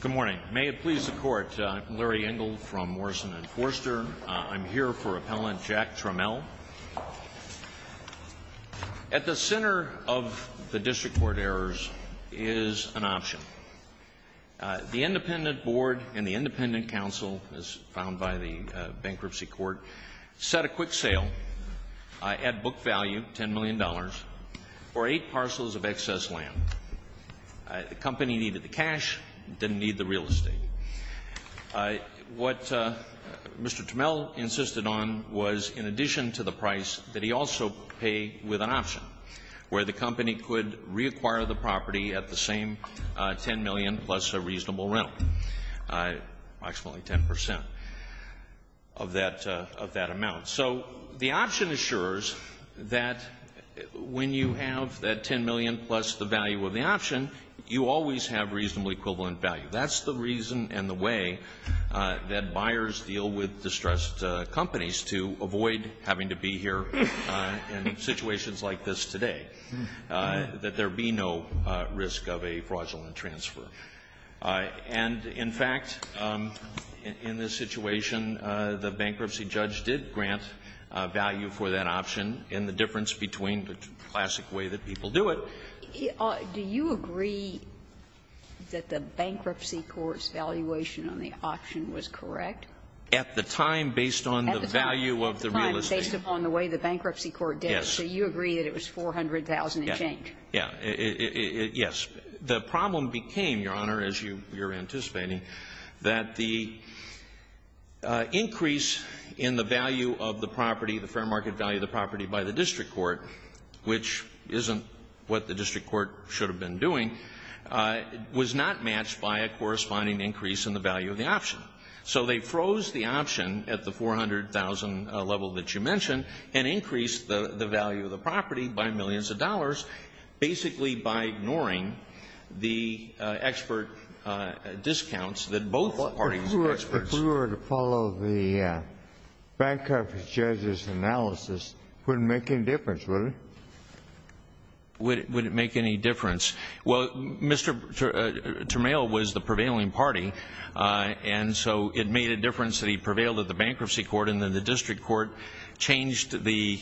Good morning. May it please the Court, I'm Larry Engel from Morrison & Forster. I'm here for Appellant Jack Tramiel. At the center of the District Court errors is an option. The Independent Board and the Independent Council, as found by the Bankruptcy Court, set a quick sale at book value, $10 million, for eight parcels of excess land. The company needed the cash, didn't need the real estate. What Mr. Tramiel insisted on was, in addition to the price, that he also pay with an option, where the company could reacquire the property at the same $10 million plus a reasonable rental, approximately 10% of that amount. So the option assures that when you have that $10 million plus the value of the option, you always have reasonably equivalent value. That's the reason and the way that buyers deal with distressed companies, to avoid having to be here in situations like this today, that there be no risk of a fraudulent transfer. And, in fact, in this situation, the bankruptcy judge did grant value for that option, in the difference between the classic way that people do it. Do you agree that the Bankruptcy Court's valuation on the option was correct? At the time, based on the value of the real estate. At the time, based upon the way the Bankruptcy Court did it. Yes. So you agree that it was $400,000 and change? Yeah. Yes. The problem became, Your Honor, as you're anticipating, that the increase in the value of the property, the fair market value of the property by the District Court, which isn't what the District Court should have been doing, was not matched by a corresponding increase in the value of the option. So they froze the option at the $400,000 level that you mentioned, and increased the value of the property by millions of dollars, basically by ignoring the expert discounts that both parties are experts. If we were to follow the bankruptcy judge's analysis, it wouldn't make any difference, would it? Would it make any difference? Well, Mr. Turmail was the prevailing party, and so it made a difference that he prevailed at the Bankruptcy Court, and then the District Court changed the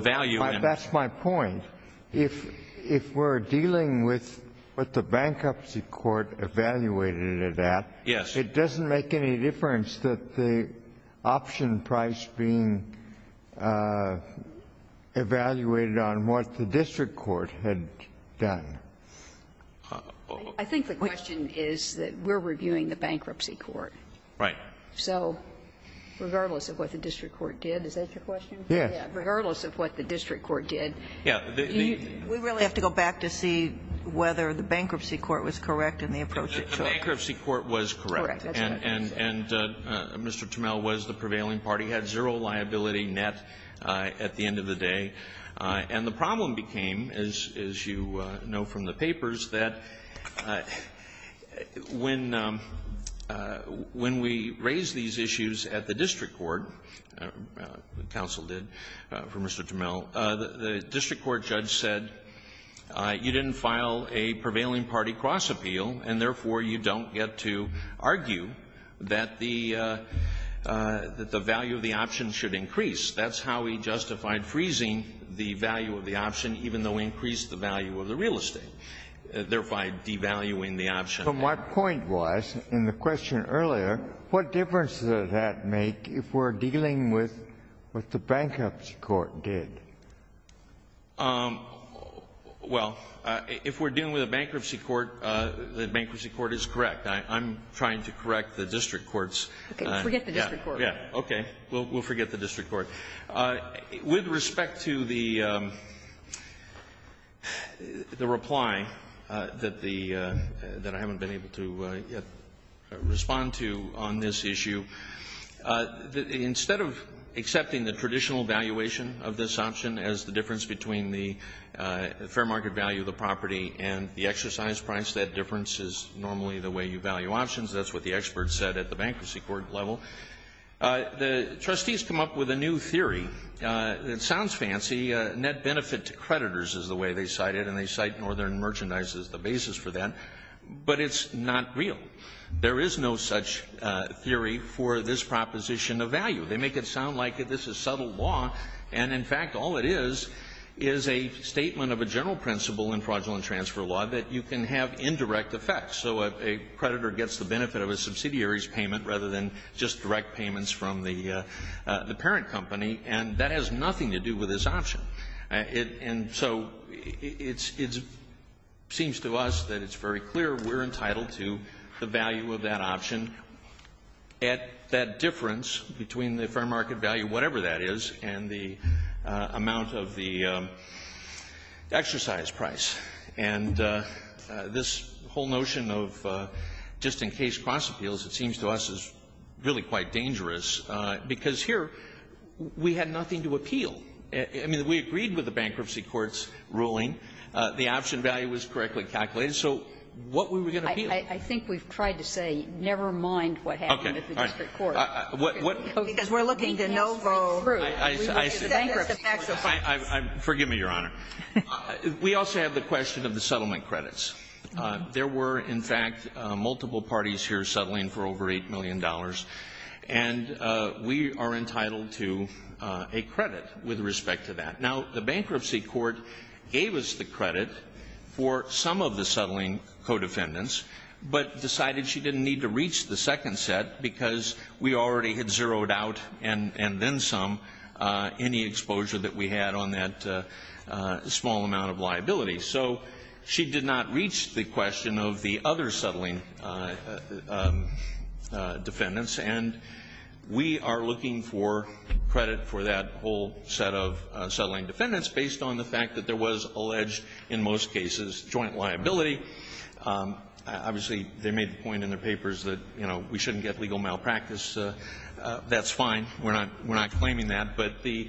value. That's my point. If we're dealing with what the Bankruptcy Court evaluated it at, it doesn't make any difference that the option price being evaluated on what the District Court had done. I think the question is that we're reviewing the Bankruptcy Court. Right. So regardless of what the District Court did, is that your question? Yes. Regardless of what the District Court did, we really have to go back to see whether the Bankruptcy Court was correct in the approach it took. The Bankruptcy Court was correct. Correct. And Mr. Turmail was the prevailing party. He had zero liability net at the end of the day. And the problem became, as you know from the papers, that when we raised these issues at the District Court, the counsel did for Mr. Turmail, the District Court judge said you didn't file a prevailing party cross-appeal, and therefore you don't get to argue that the value of the option should increase. That's how he justified freezing the value of the option, even though we increased the value of the real estate, thereby devaluing the option. But my point was, in the question earlier, what difference does that make if we're dealing with what the Bankruptcy Court did? Well, if we're dealing with the Bankruptcy Court, the Bankruptcy Court is correct. I'm trying to correct the District Courts. Okay. Forget the District Court. Okay. We'll forget the District Court. With respect to the reply that I haven't been able to yet respond to on this issue, instead of accepting the traditional valuation of this option as the difference between the fair market value of the property and the exercise price, that difference is normally the way you value options. That's what the experts said at the Bankruptcy Court level. The trustees come up with a new theory. It sounds fancy. Net benefit to creditors is the way they cite it, and they cite Northern Merchandise as the basis for that. But it's not real. There is no such theory for this proposition of value. They make it sound like this is subtle law. And, in fact, all it is is a statement of a general principle in fraudulent transfer law that you can have indirect effects. So a creditor gets the benefit of a subsidiary's payment rather than just direct payments from the parent company. And that has nothing to do with this option. And so it seems to us that it's very clear we're entitled to the value of that option at that difference between the fair market value, whatever that is, and the amount of the exercise price. And this whole notion of just-in-case cross-appeals, it seems to us, is really quite dangerous, because here we had nothing to appeal. I mean, we agreed with the Bankruptcy Court's ruling. The option value was correctly calculated. So what were we going to appeal? I think we've tried to say never mind what happened at the district court. Okay. All right. Because we're looking to Novo. Bankruptcy Court. Forgive me, Your Honor. We also have the question of the settlement credits. There were, in fact, multiple parties here settling for over $8 million. And we are entitled to a credit with respect to that. Now, the Bankruptcy Court gave us the credit for some of the settling co-defendants but decided she didn't need to reach the second set because we already had zeroed out and then some any exposure that we had on that small amount of liability. So she did not reach the question of the other settling defendants, and we are looking for credit for that whole set of settling defendants based on the fact that there was alleged, in most cases, joint liability. Obviously, they made the point in their papers that, you know, we shouldn't get legal malpractice. That's fine. We're not claiming that. But the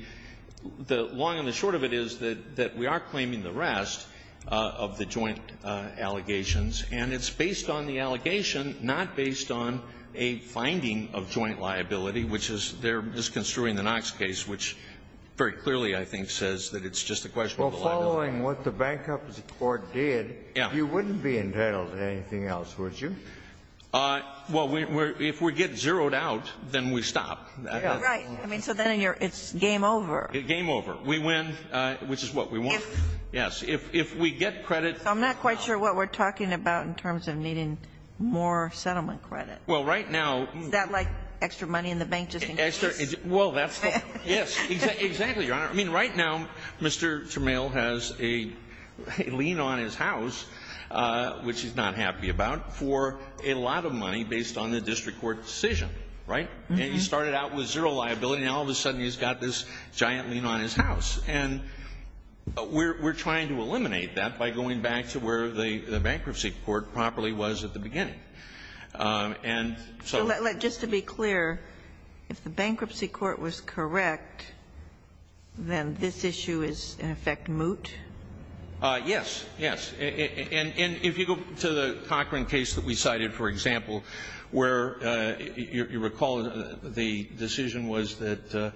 long and the short of it is that we are claiming the rest of the joint allegations, and it's based on the allegation, not based on a finding of joint liability, which is they're just construing the Knox case, which very clearly I think says that it's just a question of the liability. If you're following what the Bankruptcy Court did, you wouldn't be entitled to anything else, would you? Well, if we get zeroed out, then we stop. Right. I mean, so then it's game over. Game over. We win, which is what we want. Yes. If we get credit. I'm not quite sure what we're talking about in terms of needing more settlement credit. Well, right now. Is that like extra money in the bank just in case? Well, that's the question. Yes. Exactly, Your Honor. I mean, right now Mr. Tramiel has a lien on his house, which he's not happy about, for a lot of money based on the district court decision. Right? And he started out with zero liability, and all of a sudden he's got this giant lien on his house. And we're trying to eliminate that by going back to where the Bankruptcy Court properly was at the beginning. And so. Just to be clear, if the Bankruptcy Court was correct, then this issue is in effect moot? Yes. Yes. And if you go to the Cochran case that we cited, for example, where you recall the decision was that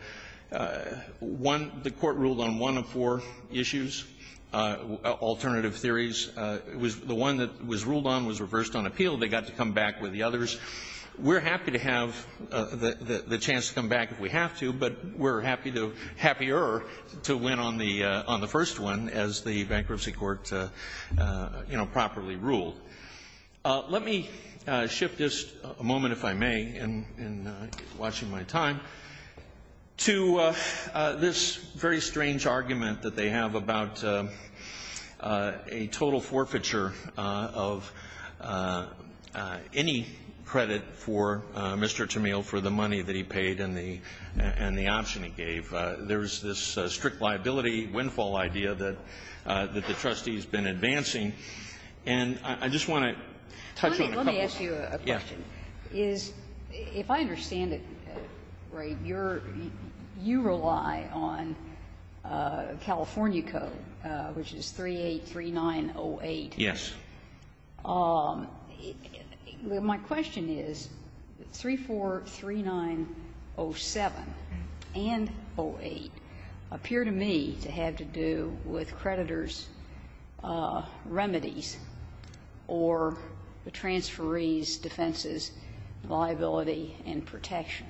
one, the court ruled on one of four issues, alternative theories. The one that was ruled on was reversed on appeal. They got to come back with the others. We're happy to have the chance to come back if we have to, but we're happier to win on the first one as the Bankruptcy Court properly ruled. Let me shift this a moment, if I may, in watching my time, to this very strange argument that they have about a total forfeiture of any credit for Mr. Tammeil for the money that he paid and the option he gave. There's this strict liability windfall idea that the trustee's been advancing. And I just want to touch on a couple of things. Honey, let me ask you a question. Yes. If I understand it right, you're you rely on California code, which is 383908. Yes. Well, my question is, 343907 and 08 appear to me to have to do with creditors' remedies or the transferee's defenses, liability and protection,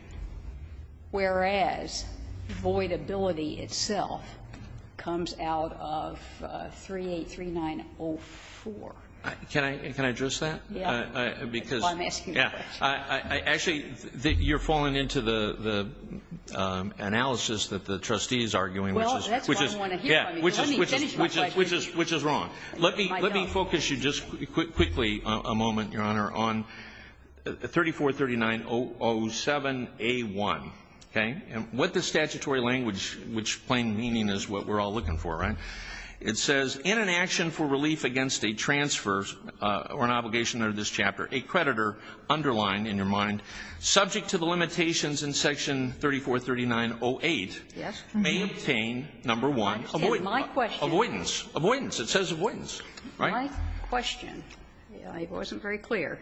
whereas voidability itself comes out of 383904. Can I address that? Yes. Because I'm asking a question. Actually, you're falling into the analysis that the trustee is arguing, which is wrong. Let me focus you just quickly a moment, Your Honor, on 343907A1. Okay? And what the statutory language, which plain meaning is what we're all looking for, right? It says, In an action for relief against a transfer or an obligation under this chapter, a creditor, underlined in your mind, subject to the limitations in section 343908, may obtain, number one, avoidance. Avoidance. It says avoidance. Right? My question, I wasn't very clear,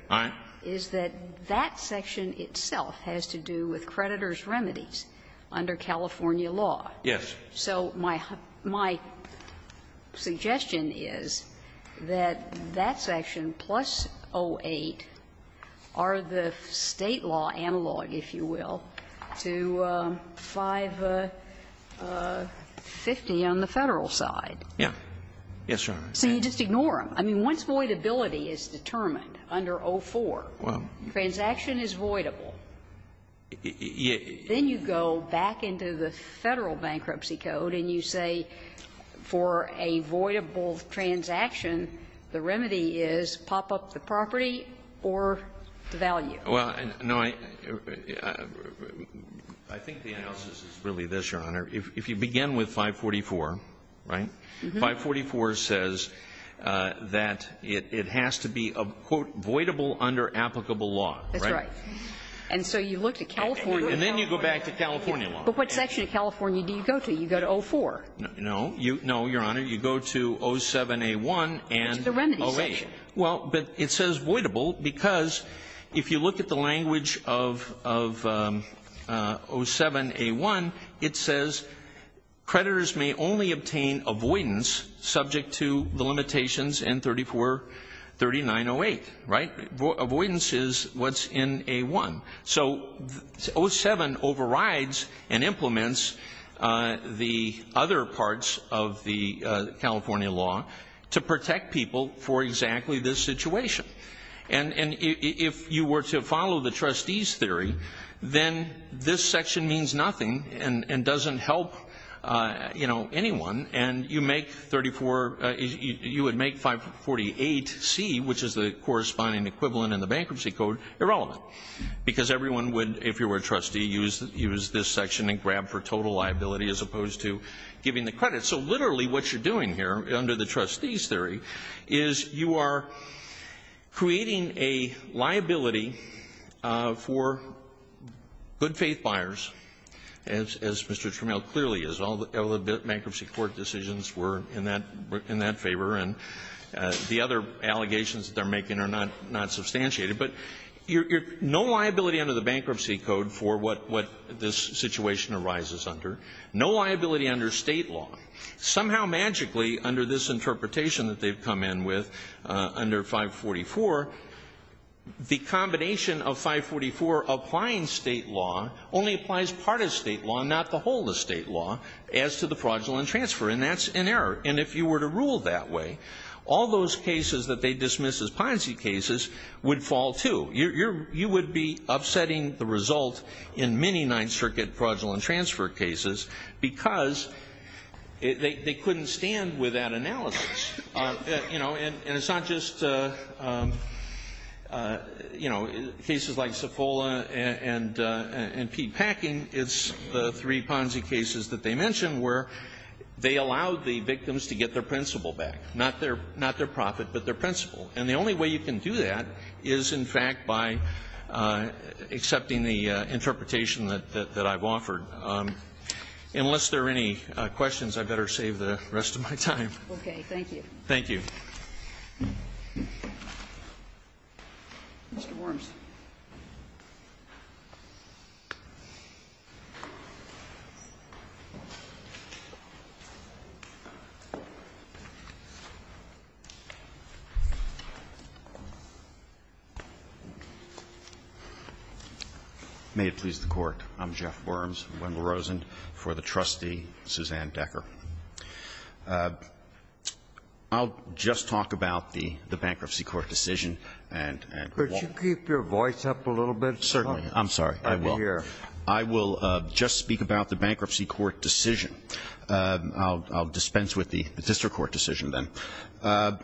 is that that section itself has to do with creditors' remedies under California law. Yes. So my suggestion is that that section plus 08 are the State law analog, if you will, to 550 on the Federal side. Yes. Yes, Your Honor. So you just ignore them. I mean, once voidability is determined under 04, transaction is voidable. Then you go back into the Federal bankruptcy code and you say for a voidable transaction, the remedy is pop up the property or devalue. Well, no, I think the analysis is really this, Your Honor. If you begin with 544, right? 544 says that it has to be a, quote, voidable under applicable law. That's right. And so you look to California. And then you go back to California law. But what section of California do you go to? You go to 04. No. No, Your Honor. You go to 07A1 and 08. It's the remedy section. Well, but it says voidable because if you look at the language of 07A1, it says creditors may only obtain avoidance subject to the limitations in 343908. Right? Avoidance is what's in A1. So 07 overrides and implements the other parts of the California law to protect people for exactly this situation. And if you were to follow the trustee's theory, then this section means nothing and doesn't help, you know, anyone. And you make 34, you would make 548C, which is the corresponding equivalent in the bankruptcy code, irrelevant. Because everyone would, if you were a trustee, use this section and grab for total liability as opposed to giving the credit. So literally what you're doing here under the trustee's theory is you are creating a were in that favor, and the other allegations that they're making are not substantiated. But no liability under the bankruptcy code for what this situation arises under. No liability under State law. Somehow, magically, under this interpretation that they've come in with, under 544, the combination of 544 applying State law only applies part of State law, not the whole of State law, as to the fraudulent transfer. And that's an error. And if you were to rule that way, all those cases that they dismiss as Ponzi cases would fall, too. You would be upsetting the result in many Ninth Circuit fraudulent transfer cases because they couldn't stand with that analysis. You know, and it's not just, you know, cases like Cifola and Pete Packing. It's the three Ponzi cases that they mentioned where they allowed the victims to get their principal back. Not their profit, but their principal. And the only way you can do that is, in fact, by accepting the interpretation that I've offered. Unless there are any questions, I better save the rest of my time. Okay. Thank you. Mr. Worms. May it please the Court. I'm Jeff Worms, Wendell Rosen, for the trustee, Suzanne Decker. I'll just talk about the bankruptcy court decision. Could you keep your voice up a little bit? Certainly. I'm sorry. I will just speak about the bankruptcy court decision. I'll dispense with the district court decision, then.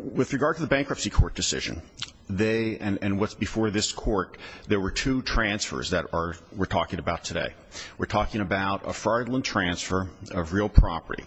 With regard to the bankruptcy court decision, they, and what's before this court, there were two transfers that we're talking about today. We're talking about a fraudulent transfer of real property.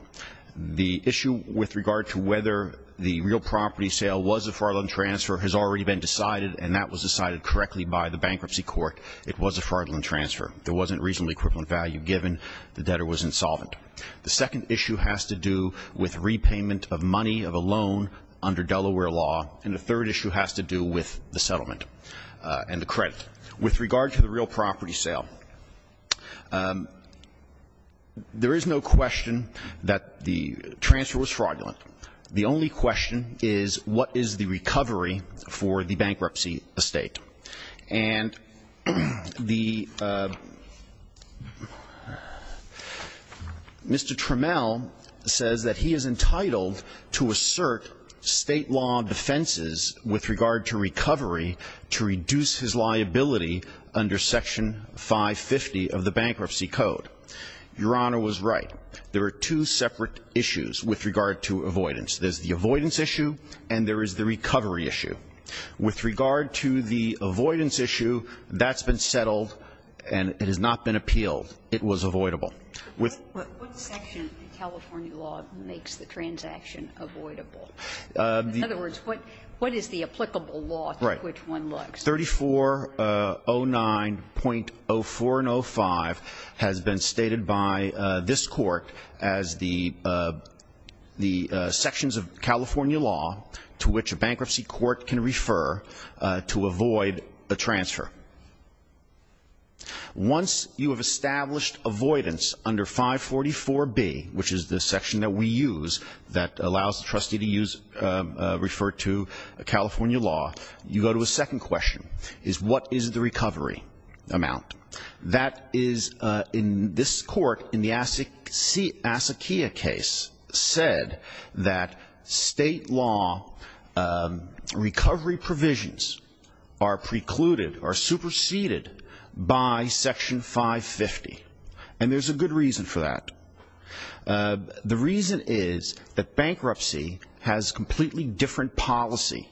The issue with regard to whether the real property sale was a fraudulent transfer has already been decided, and that was decided correctly by the bankruptcy court. It was a fraudulent transfer. There wasn't reasonably equivalent value given. The debtor was insolvent. The second issue has to do with repayment of money of a loan under Delaware law, and the third issue has to do with the settlement and the credit. With regard to the real property sale, there is no question that the transfer was fraudulent. The only question is, what is the recovery for the bankruptcy estate? And the Mr. Trammell says that he is entitled to assert state law defenses with regard to recovery to reduce his liability under Section 550 of the Bankruptcy Code. Your Honor was right. There are two separate issues with regard to avoidance. There's the avoidance issue and there is the recovery issue. With regard to the avoidance issue, that's been settled and it has not been appealed. It was avoidable. With the ---- What section in California law makes the transaction avoidable? In other words, what is the applicable law through which one looks? Right. 3409.04 and 05 has been stated by this Court as the sections of California law to which a bankruptcy court can refer to avoid a transfer. Once you have established avoidance under 544B, which is the section that we use that allows the trustee to refer to California law, you go to a second question, is what is the recovery amount? That is in this Court in the Asakia case said that state law recovery provisions are precluded or superseded by Section 550. And there's a good reason for that. The reason is that bankruptcy has completely different policy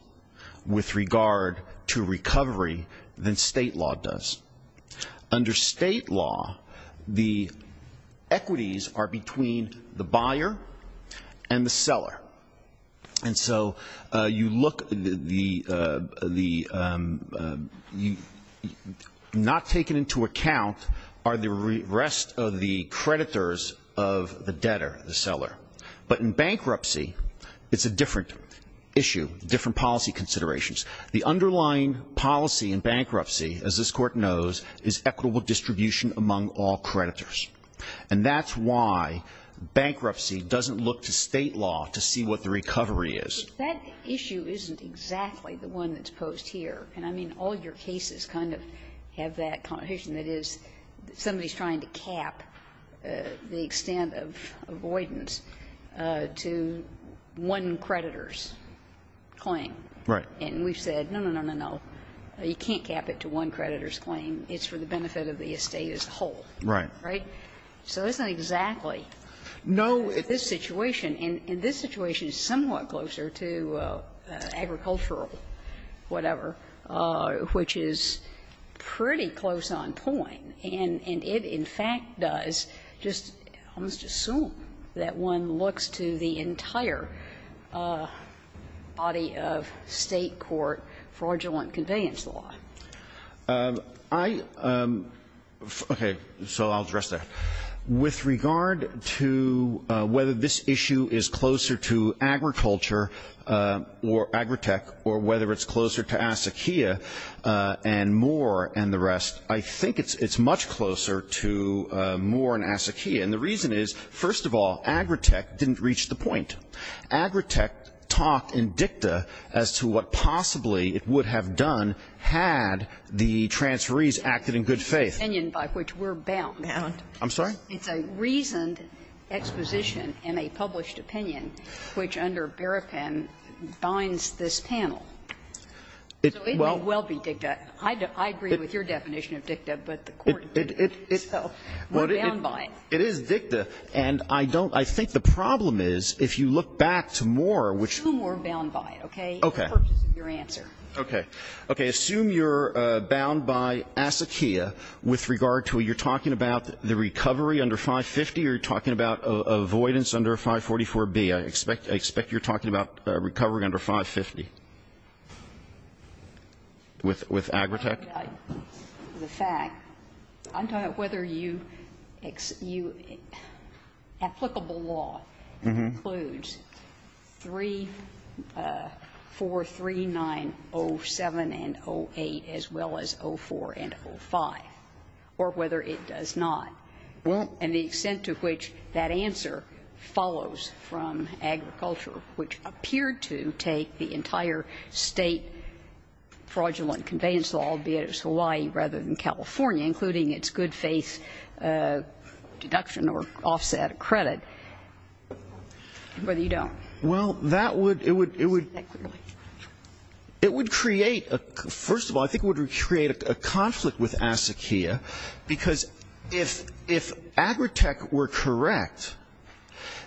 with regard to recovery than state law does. Under state law, the equities are between the buyer and the seller. And so you look the ---- Not taken into account are the rest of the creditors of the debtor, the seller. But in bankruptcy, it's a different issue, different policy considerations. The underlying policy in bankruptcy, as this Court knows, is equitable distribution among all creditors. And that's why bankruptcy doesn't look to state law to see what the recovery is. But that issue isn't exactly the one that's posed here. And, I mean, all your cases kind of have that condition that is somebody's trying to cap the extent of avoidance to one creditor's claim. Right. And we've said, no, no, no, no, no, you can't cap it to one creditor's claim. It's for the benefit of the estate as a whole. Right. Right? So it's not exactly. No. In this situation. And this situation is somewhat closer to agricultural whatever, which is pretty close on point, and it in fact does just almost assume that one looks to the entire body of State court fraudulent convenience law. I, okay, so I'll address that. With regard to whether this issue is closer to agriculture or Agritech or whether it's closer to ASAQEA and Moore and the rest, I think it's much closer to Moore and ASAQEA. And the reason is, first of all, Agritech didn't reach the point. Agritech talked in dicta as to what possibly it would have done had the transferees acted in good faith. It's an opinion by which we're bound. Bound. I'm sorry? It's a reasoned exposition in a published opinion, which under Berepin binds this panel. So it may well be dicta. I agree with your definition of dicta, but the Court didn't, so we're bound by it. It is dicta, and I don't, I think the problem is, if you look back to Moore, which Assume we're bound by it, okay, in the purpose of your answer. Okay. Okay. Assume you're bound by ASAQEA with regard to, you're talking about the recovery under 550 or you're talking about avoidance under 544B. I expect you're talking about recovery under 550 with Agritech. The fact, I'm talking about whether you, applicable law includes 343907 and 08 as well as 04 and 05, or whether it does not. And the extent to which that answer follows from agriculture, which appeared to take the entire State fraudulent conveyance law, be it as Hawaii rather than California, including its good faith deduction or offset credit, whether you don't. Well, that would, it would, it would create, first of all, I think it would create a conflict with ASAQEA, because if, if Agritech were correct,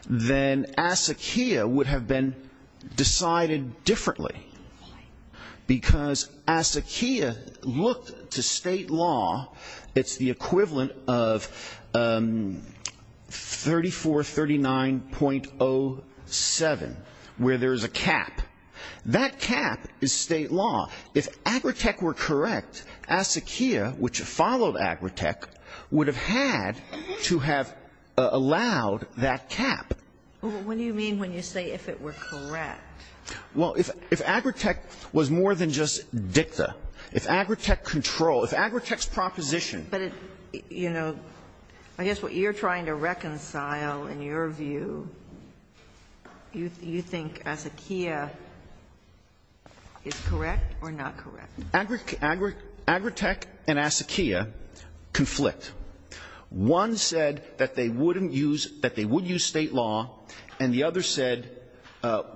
then ASAQEA would have been decided differently, because ASAQEA looked to State law. It's the equivalent of 3439.07, where there's a cap. That cap is State law. If Agritech were correct, ASAQEA, which followed Agritech, would have had to have allowed that cap. What do you mean when you say if it were correct? Well, if, if Agritech was more than just dicta, if Agritech control, if Agritech's proposition. But it, you know, I guess what you're trying to reconcile in your view, you, you think ASAQEA is correct or not correct? Agritech and ASAQEA conflict. One said that they wouldn't use, that they would use State law, and the other said,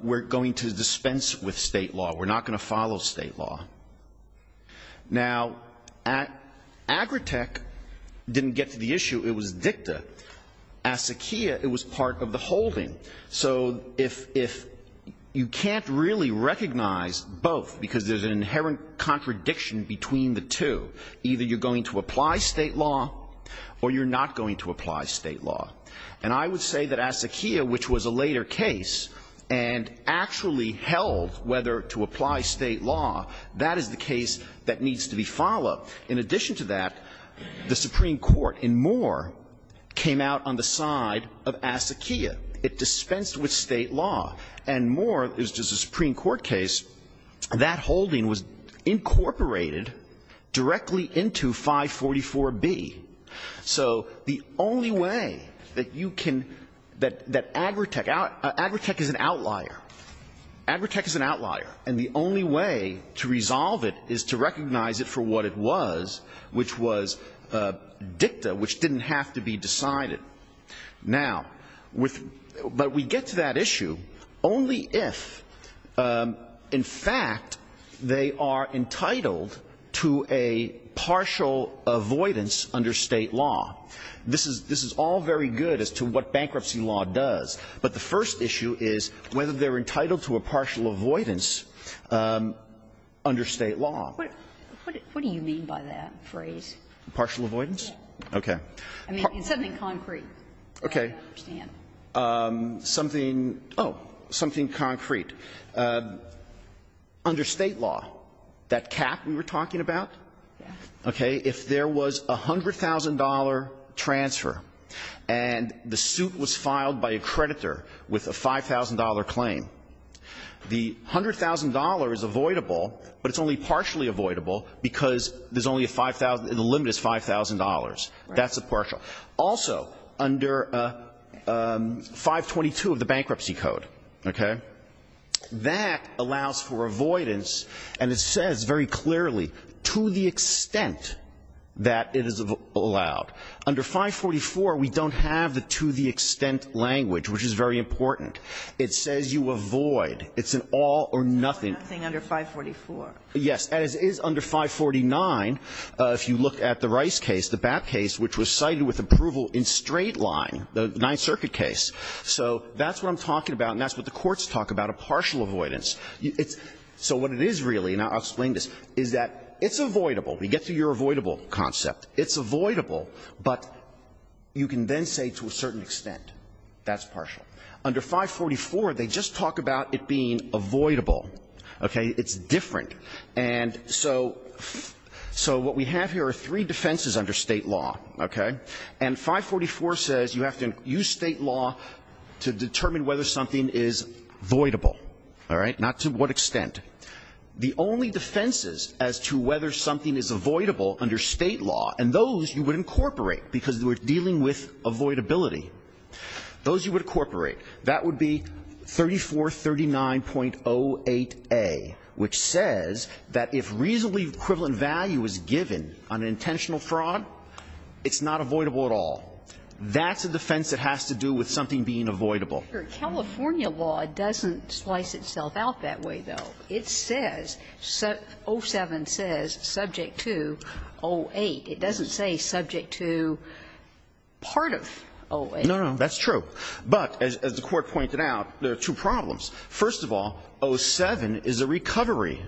we're going to dispense with State law. We're not going to follow State law. Now, Agritech didn't get to the issue. It was dicta. ASAQEA, it was part of the holding. So if, if you can't really recognize both, because there's an inherent contradiction between the two, either you're going to apply State law or you're not going to apply State law. And I would say that ASAQEA, which was a later case and actually held whether to apply State law, that is the case that needs to be followed. In addition to that, the Supreme Court in Moore came out on the side of ASAQEA. It dispensed with State law. And Moore, it was just a Supreme Court case, that holding was incorporated directly into 544B. So the only way that you can, that Agritech, Agritech is an outlier. Agritech is an outlier. And the only way to resolve it is to recognize it for what it was, which was dicta, which didn't have to be decided. Now, but we get to that issue only if, in fact, they are entitled to a partial avoidance under State law. This is all very good as to what bankruptcy law does, but the first issue is whether they're entitled to a partial avoidance under State law. What do you mean by that phrase? Partial avoidance? Okay. Something concrete. Okay. Something, oh, something concrete. Under State law, that cap we were talking about? Okay. If there was a $100,000 transfer and the suit was filed by a creditor with a $5,000 claim, the $100,000 is avoidable, but it's only partially avoidable because there's only a 5,000, the limit is $5,000. That's a partial. Also, under 522 of the Bankruptcy Code, okay, that allows for avoidance, and it says very clearly, to the extent that it is allowed. Under 544, we don't have the to the extent language, which is very important. It says you avoid. It's an all or nothing. Nothing under 544. Yes. As is under 549, if you look at the Rice case, the BAP case, which was cited with approval in straight line, the Ninth Circuit case, so that's what I'm talking about and that's what the courts talk about, a partial avoidance. So what it is really, and I'll explain this, is that it's avoidable. We get to your avoidable concept. It's avoidable, but you can then say to a certain extent, that's partial. Under 544, they just talk about it being avoidable. Okay. It's different. And so what we have here are three defenses under State law. Okay. And 544 says you have to use State law to determine whether something is avoidable. All right. Not to what extent. The only defenses as to whether something is avoidable under State law, and those you would incorporate, because we're dealing with avoidability. Those you would incorporate. That would be 3439.08a, which says that if reasonably equivalent value is given on intentional fraud, it's not avoidable at all. That's a defense that has to do with something being avoidable. California law doesn't slice itself out that way, though. It says, 07 says subject to 08. It doesn't say subject to part of 08. No, no, that's true. But, as the Court pointed out, there are two problems. First of all, 07 is a recovery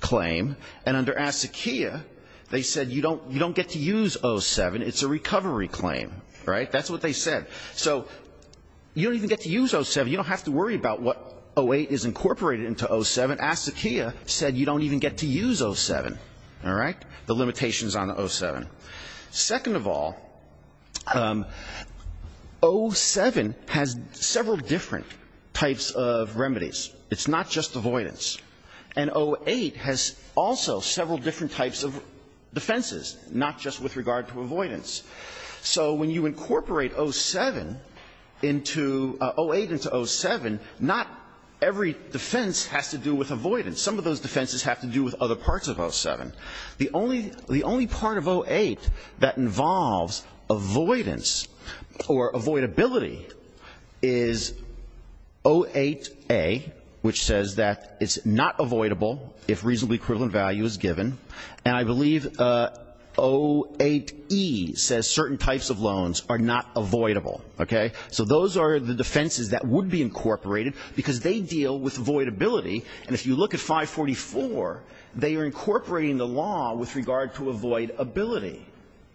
claim. And under ASCQIA, they said you don't get to use 07. It's a recovery claim. All right. That's what they said. So you don't even get to use 07. You don't have to worry about what 08 is incorporated into 07. ASCQIA said you don't even get to use 07. All right. The limitations on the 07. Second of all, 07 has several different types of remedies. It's not just avoidance. And 08 has also several different types of defenses, not just with regard to avoidance. So when you incorporate 07 into 08 into 07, not every defense has to do with avoidance. Some of those defenses have to do with other parts of 07. The only part of 08 that involves avoidance or avoidability is 08A, which says that it's not avoidable if reasonably equivalent value is given. And I believe 08E says certain types of loans are not avoidable. Okay. So those are the defenses that would be incorporated because they deal with avoidability. And if you look at 544, they are incorporating the law with regard to avoidability.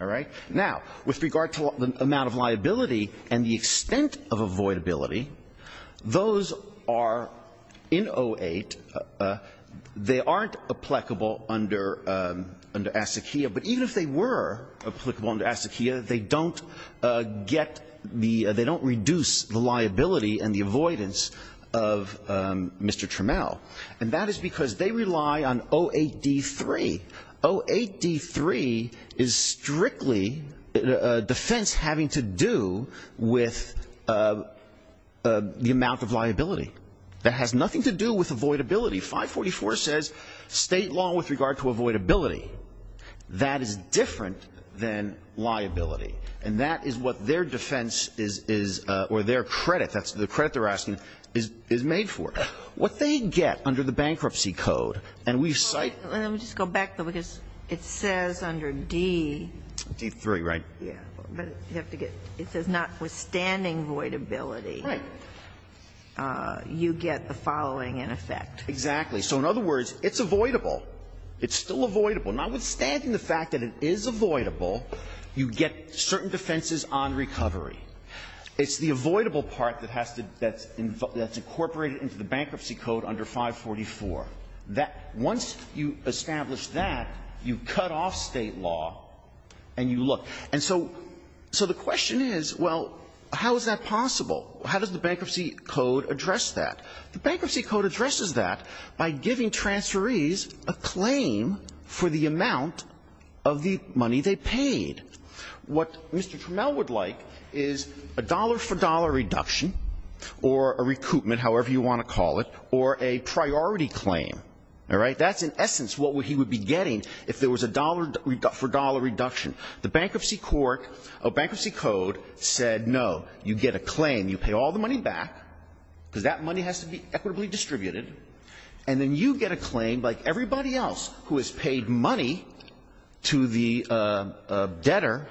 All right. Now, with regard to the amount of liability and the extent of avoidability, those are in 08, they aren't applicable under ASCQIA. But even if they were applicable under ASCQIA, they don't get the they don't reduce the liability and the avoidance of Mr. Trammell. And that is because they rely on 08D3. 08D3 is strictly a defense having to do with the amount of liability. That has nothing to do with avoidability. 544 says state law with regard to avoidability. That is different than liability. And that is what their defense is, or their credit, that's the credit they are asking, is made for. What they get under the Bankruptcy Code, and we cite. Let me just go back, because it says under D. D3, right? Yeah. But you have to get, it says notwithstanding avoidability. Right. You get the following in effect. Exactly. So in other words, it's avoidable. It's still avoidable. Notwithstanding the fact that it is avoidable, you get certain defenses on recovery. It's the avoidable part that has to, that's incorporated into the Bankruptcy Code under 544. Once you establish that, you cut off state law and you look. And so the question is, well, how is that possible? How does the Bankruptcy Code address that? The Bankruptcy Code addresses that by giving transferees a claim for the amount of the money they paid. What Mr. Trammell would like is a dollar-for-dollar reduction, or a recoupment, however you want to call it, or a priority claim. All right? That's, in essence, what he would be getting if there was a dollar-for-dollar reduction. The Bankruptcy Code said, no, you get a claim. You pay all the money back because that money has to be equitably distributed. And then you get a claim like everybody else who has paid money to the debtor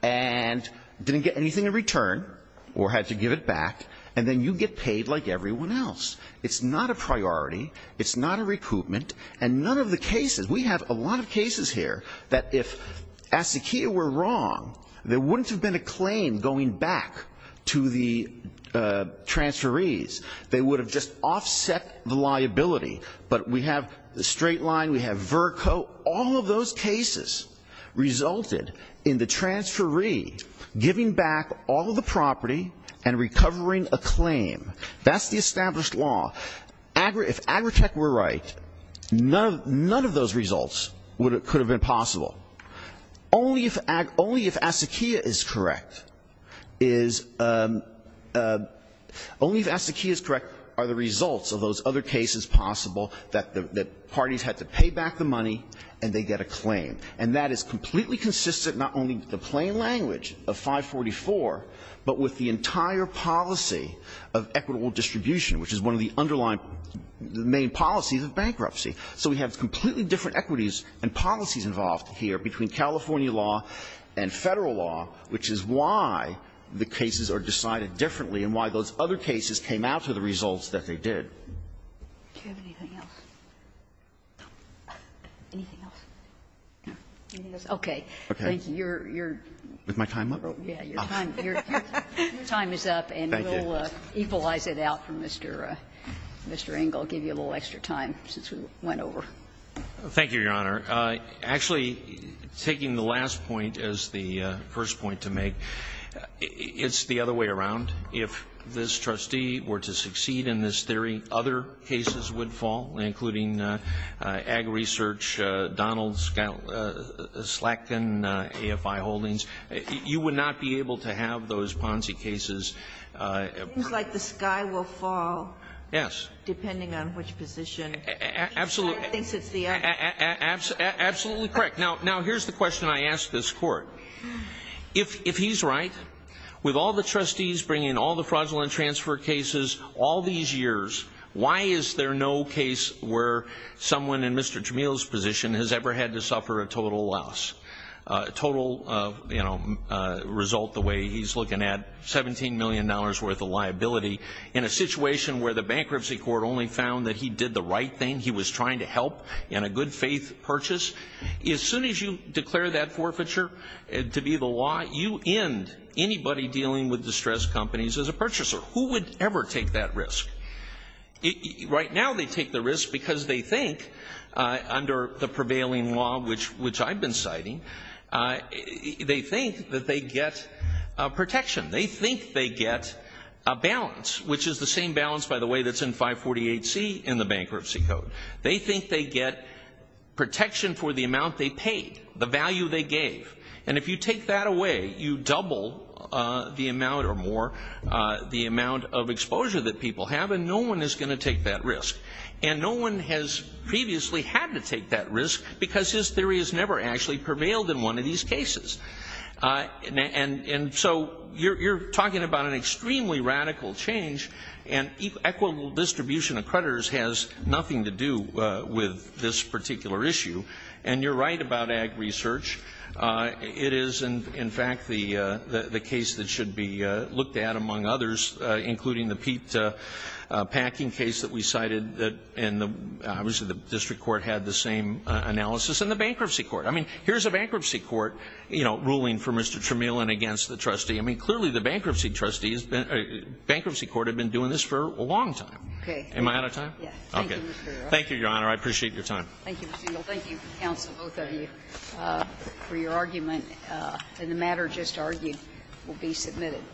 and didn't get anything in return or had to give it back. And then you get paid like everyone else. It's not a priority. It's not a recoupment. And none of the cases, we have a lot of cases here that if ASSECIA were wrong, there wouldn't have been a claim going back to the transferees. They would have just offset the liability. But we have the straight line. We have VRCO. All of those cases resulted in the transferee giving back all of the property and recovering a claim. That's the established law. If Agritech were right, none of those results could have been possible. Only if ASSECIA is correct are the results of those other cases possible that parties had to pay back the money and they get a claim. And that is completely consistent not only with the plain language of 544, but with the entire policy of equitable distribution, which is one of the underlying main policies of bankruptcy. So we have completely different equities and policies involved here between California law and Federal law, which is why the cases are decided differently and why those other cases came out to the results that they did. Anything else? Okay. Thank you. You're, you're. Is my time up? Your time is up and we'll equalize it out from Mr. Engel. I'll give you a little extra time since we went over. Thank you, Your Honor. Actually, taking the last point as the first point to make, it's the other way around. If this trustee were to succeed in this theory, other cases would fall, including Ag Research, Donald Slatkin, AFI Holdings. You would not be able to have those Ponzi cases. It seems like the sky will fall. Yes. Depending on which position. Absolutely. I think it's the other. Absolutely correct. Now, here's the question I ask this Court. If he's right, with all the trustees bringing all the fraudulent transfer cases all these years, why is there no case where someone in Mr. Jamil's position has ever had to suffer a total loss, a total result the way he's looking at $17 million worth of liability in a situation where the bankruptcy court only found that he did the right thing, he was trying to help in a good faith purchase? As soon as you declare that forfeiture to be the law, you end anybody dealing with distressed companies as a purchaser. Who would ever take that risk? Right now they take the risk because they think, under the prevailing law, which I've been citing, they think that they get protection. They think they get a balance, which is the same balance, by the way, that's in 548C in the bankruptcy code. They think they get protection for the amount they paid, the value they gave. If you take that away, you double the amount or more the amount of exposure that people have and no one is going to take that risk. No one has previously had to take that risk because his theory has never actually prevailed in one of these cases. And so you're talking about an extremely radical change and equitable distribution of creditors has nothing to do with this particular issue. And you're right about ag research. It is, in fact, the case that should be looked at, among others, including the Pete Packing case that we cited, and obviously the district court had the same analysis, and the bankruptcy court. I mean, here's a bankruptcy court, you know, ruling for Mr. Tramiel and against the trustee. I mean, clearly the bankruptcy trustees, bankruptcy court had been doing this for a long time. Am I out of time? Okay. Thank you, Your Honor. I appreciate your time. Thank you, Mr. Engel. Thank you, counsel, both of you, for your argument. And the matter just argued will be submitted.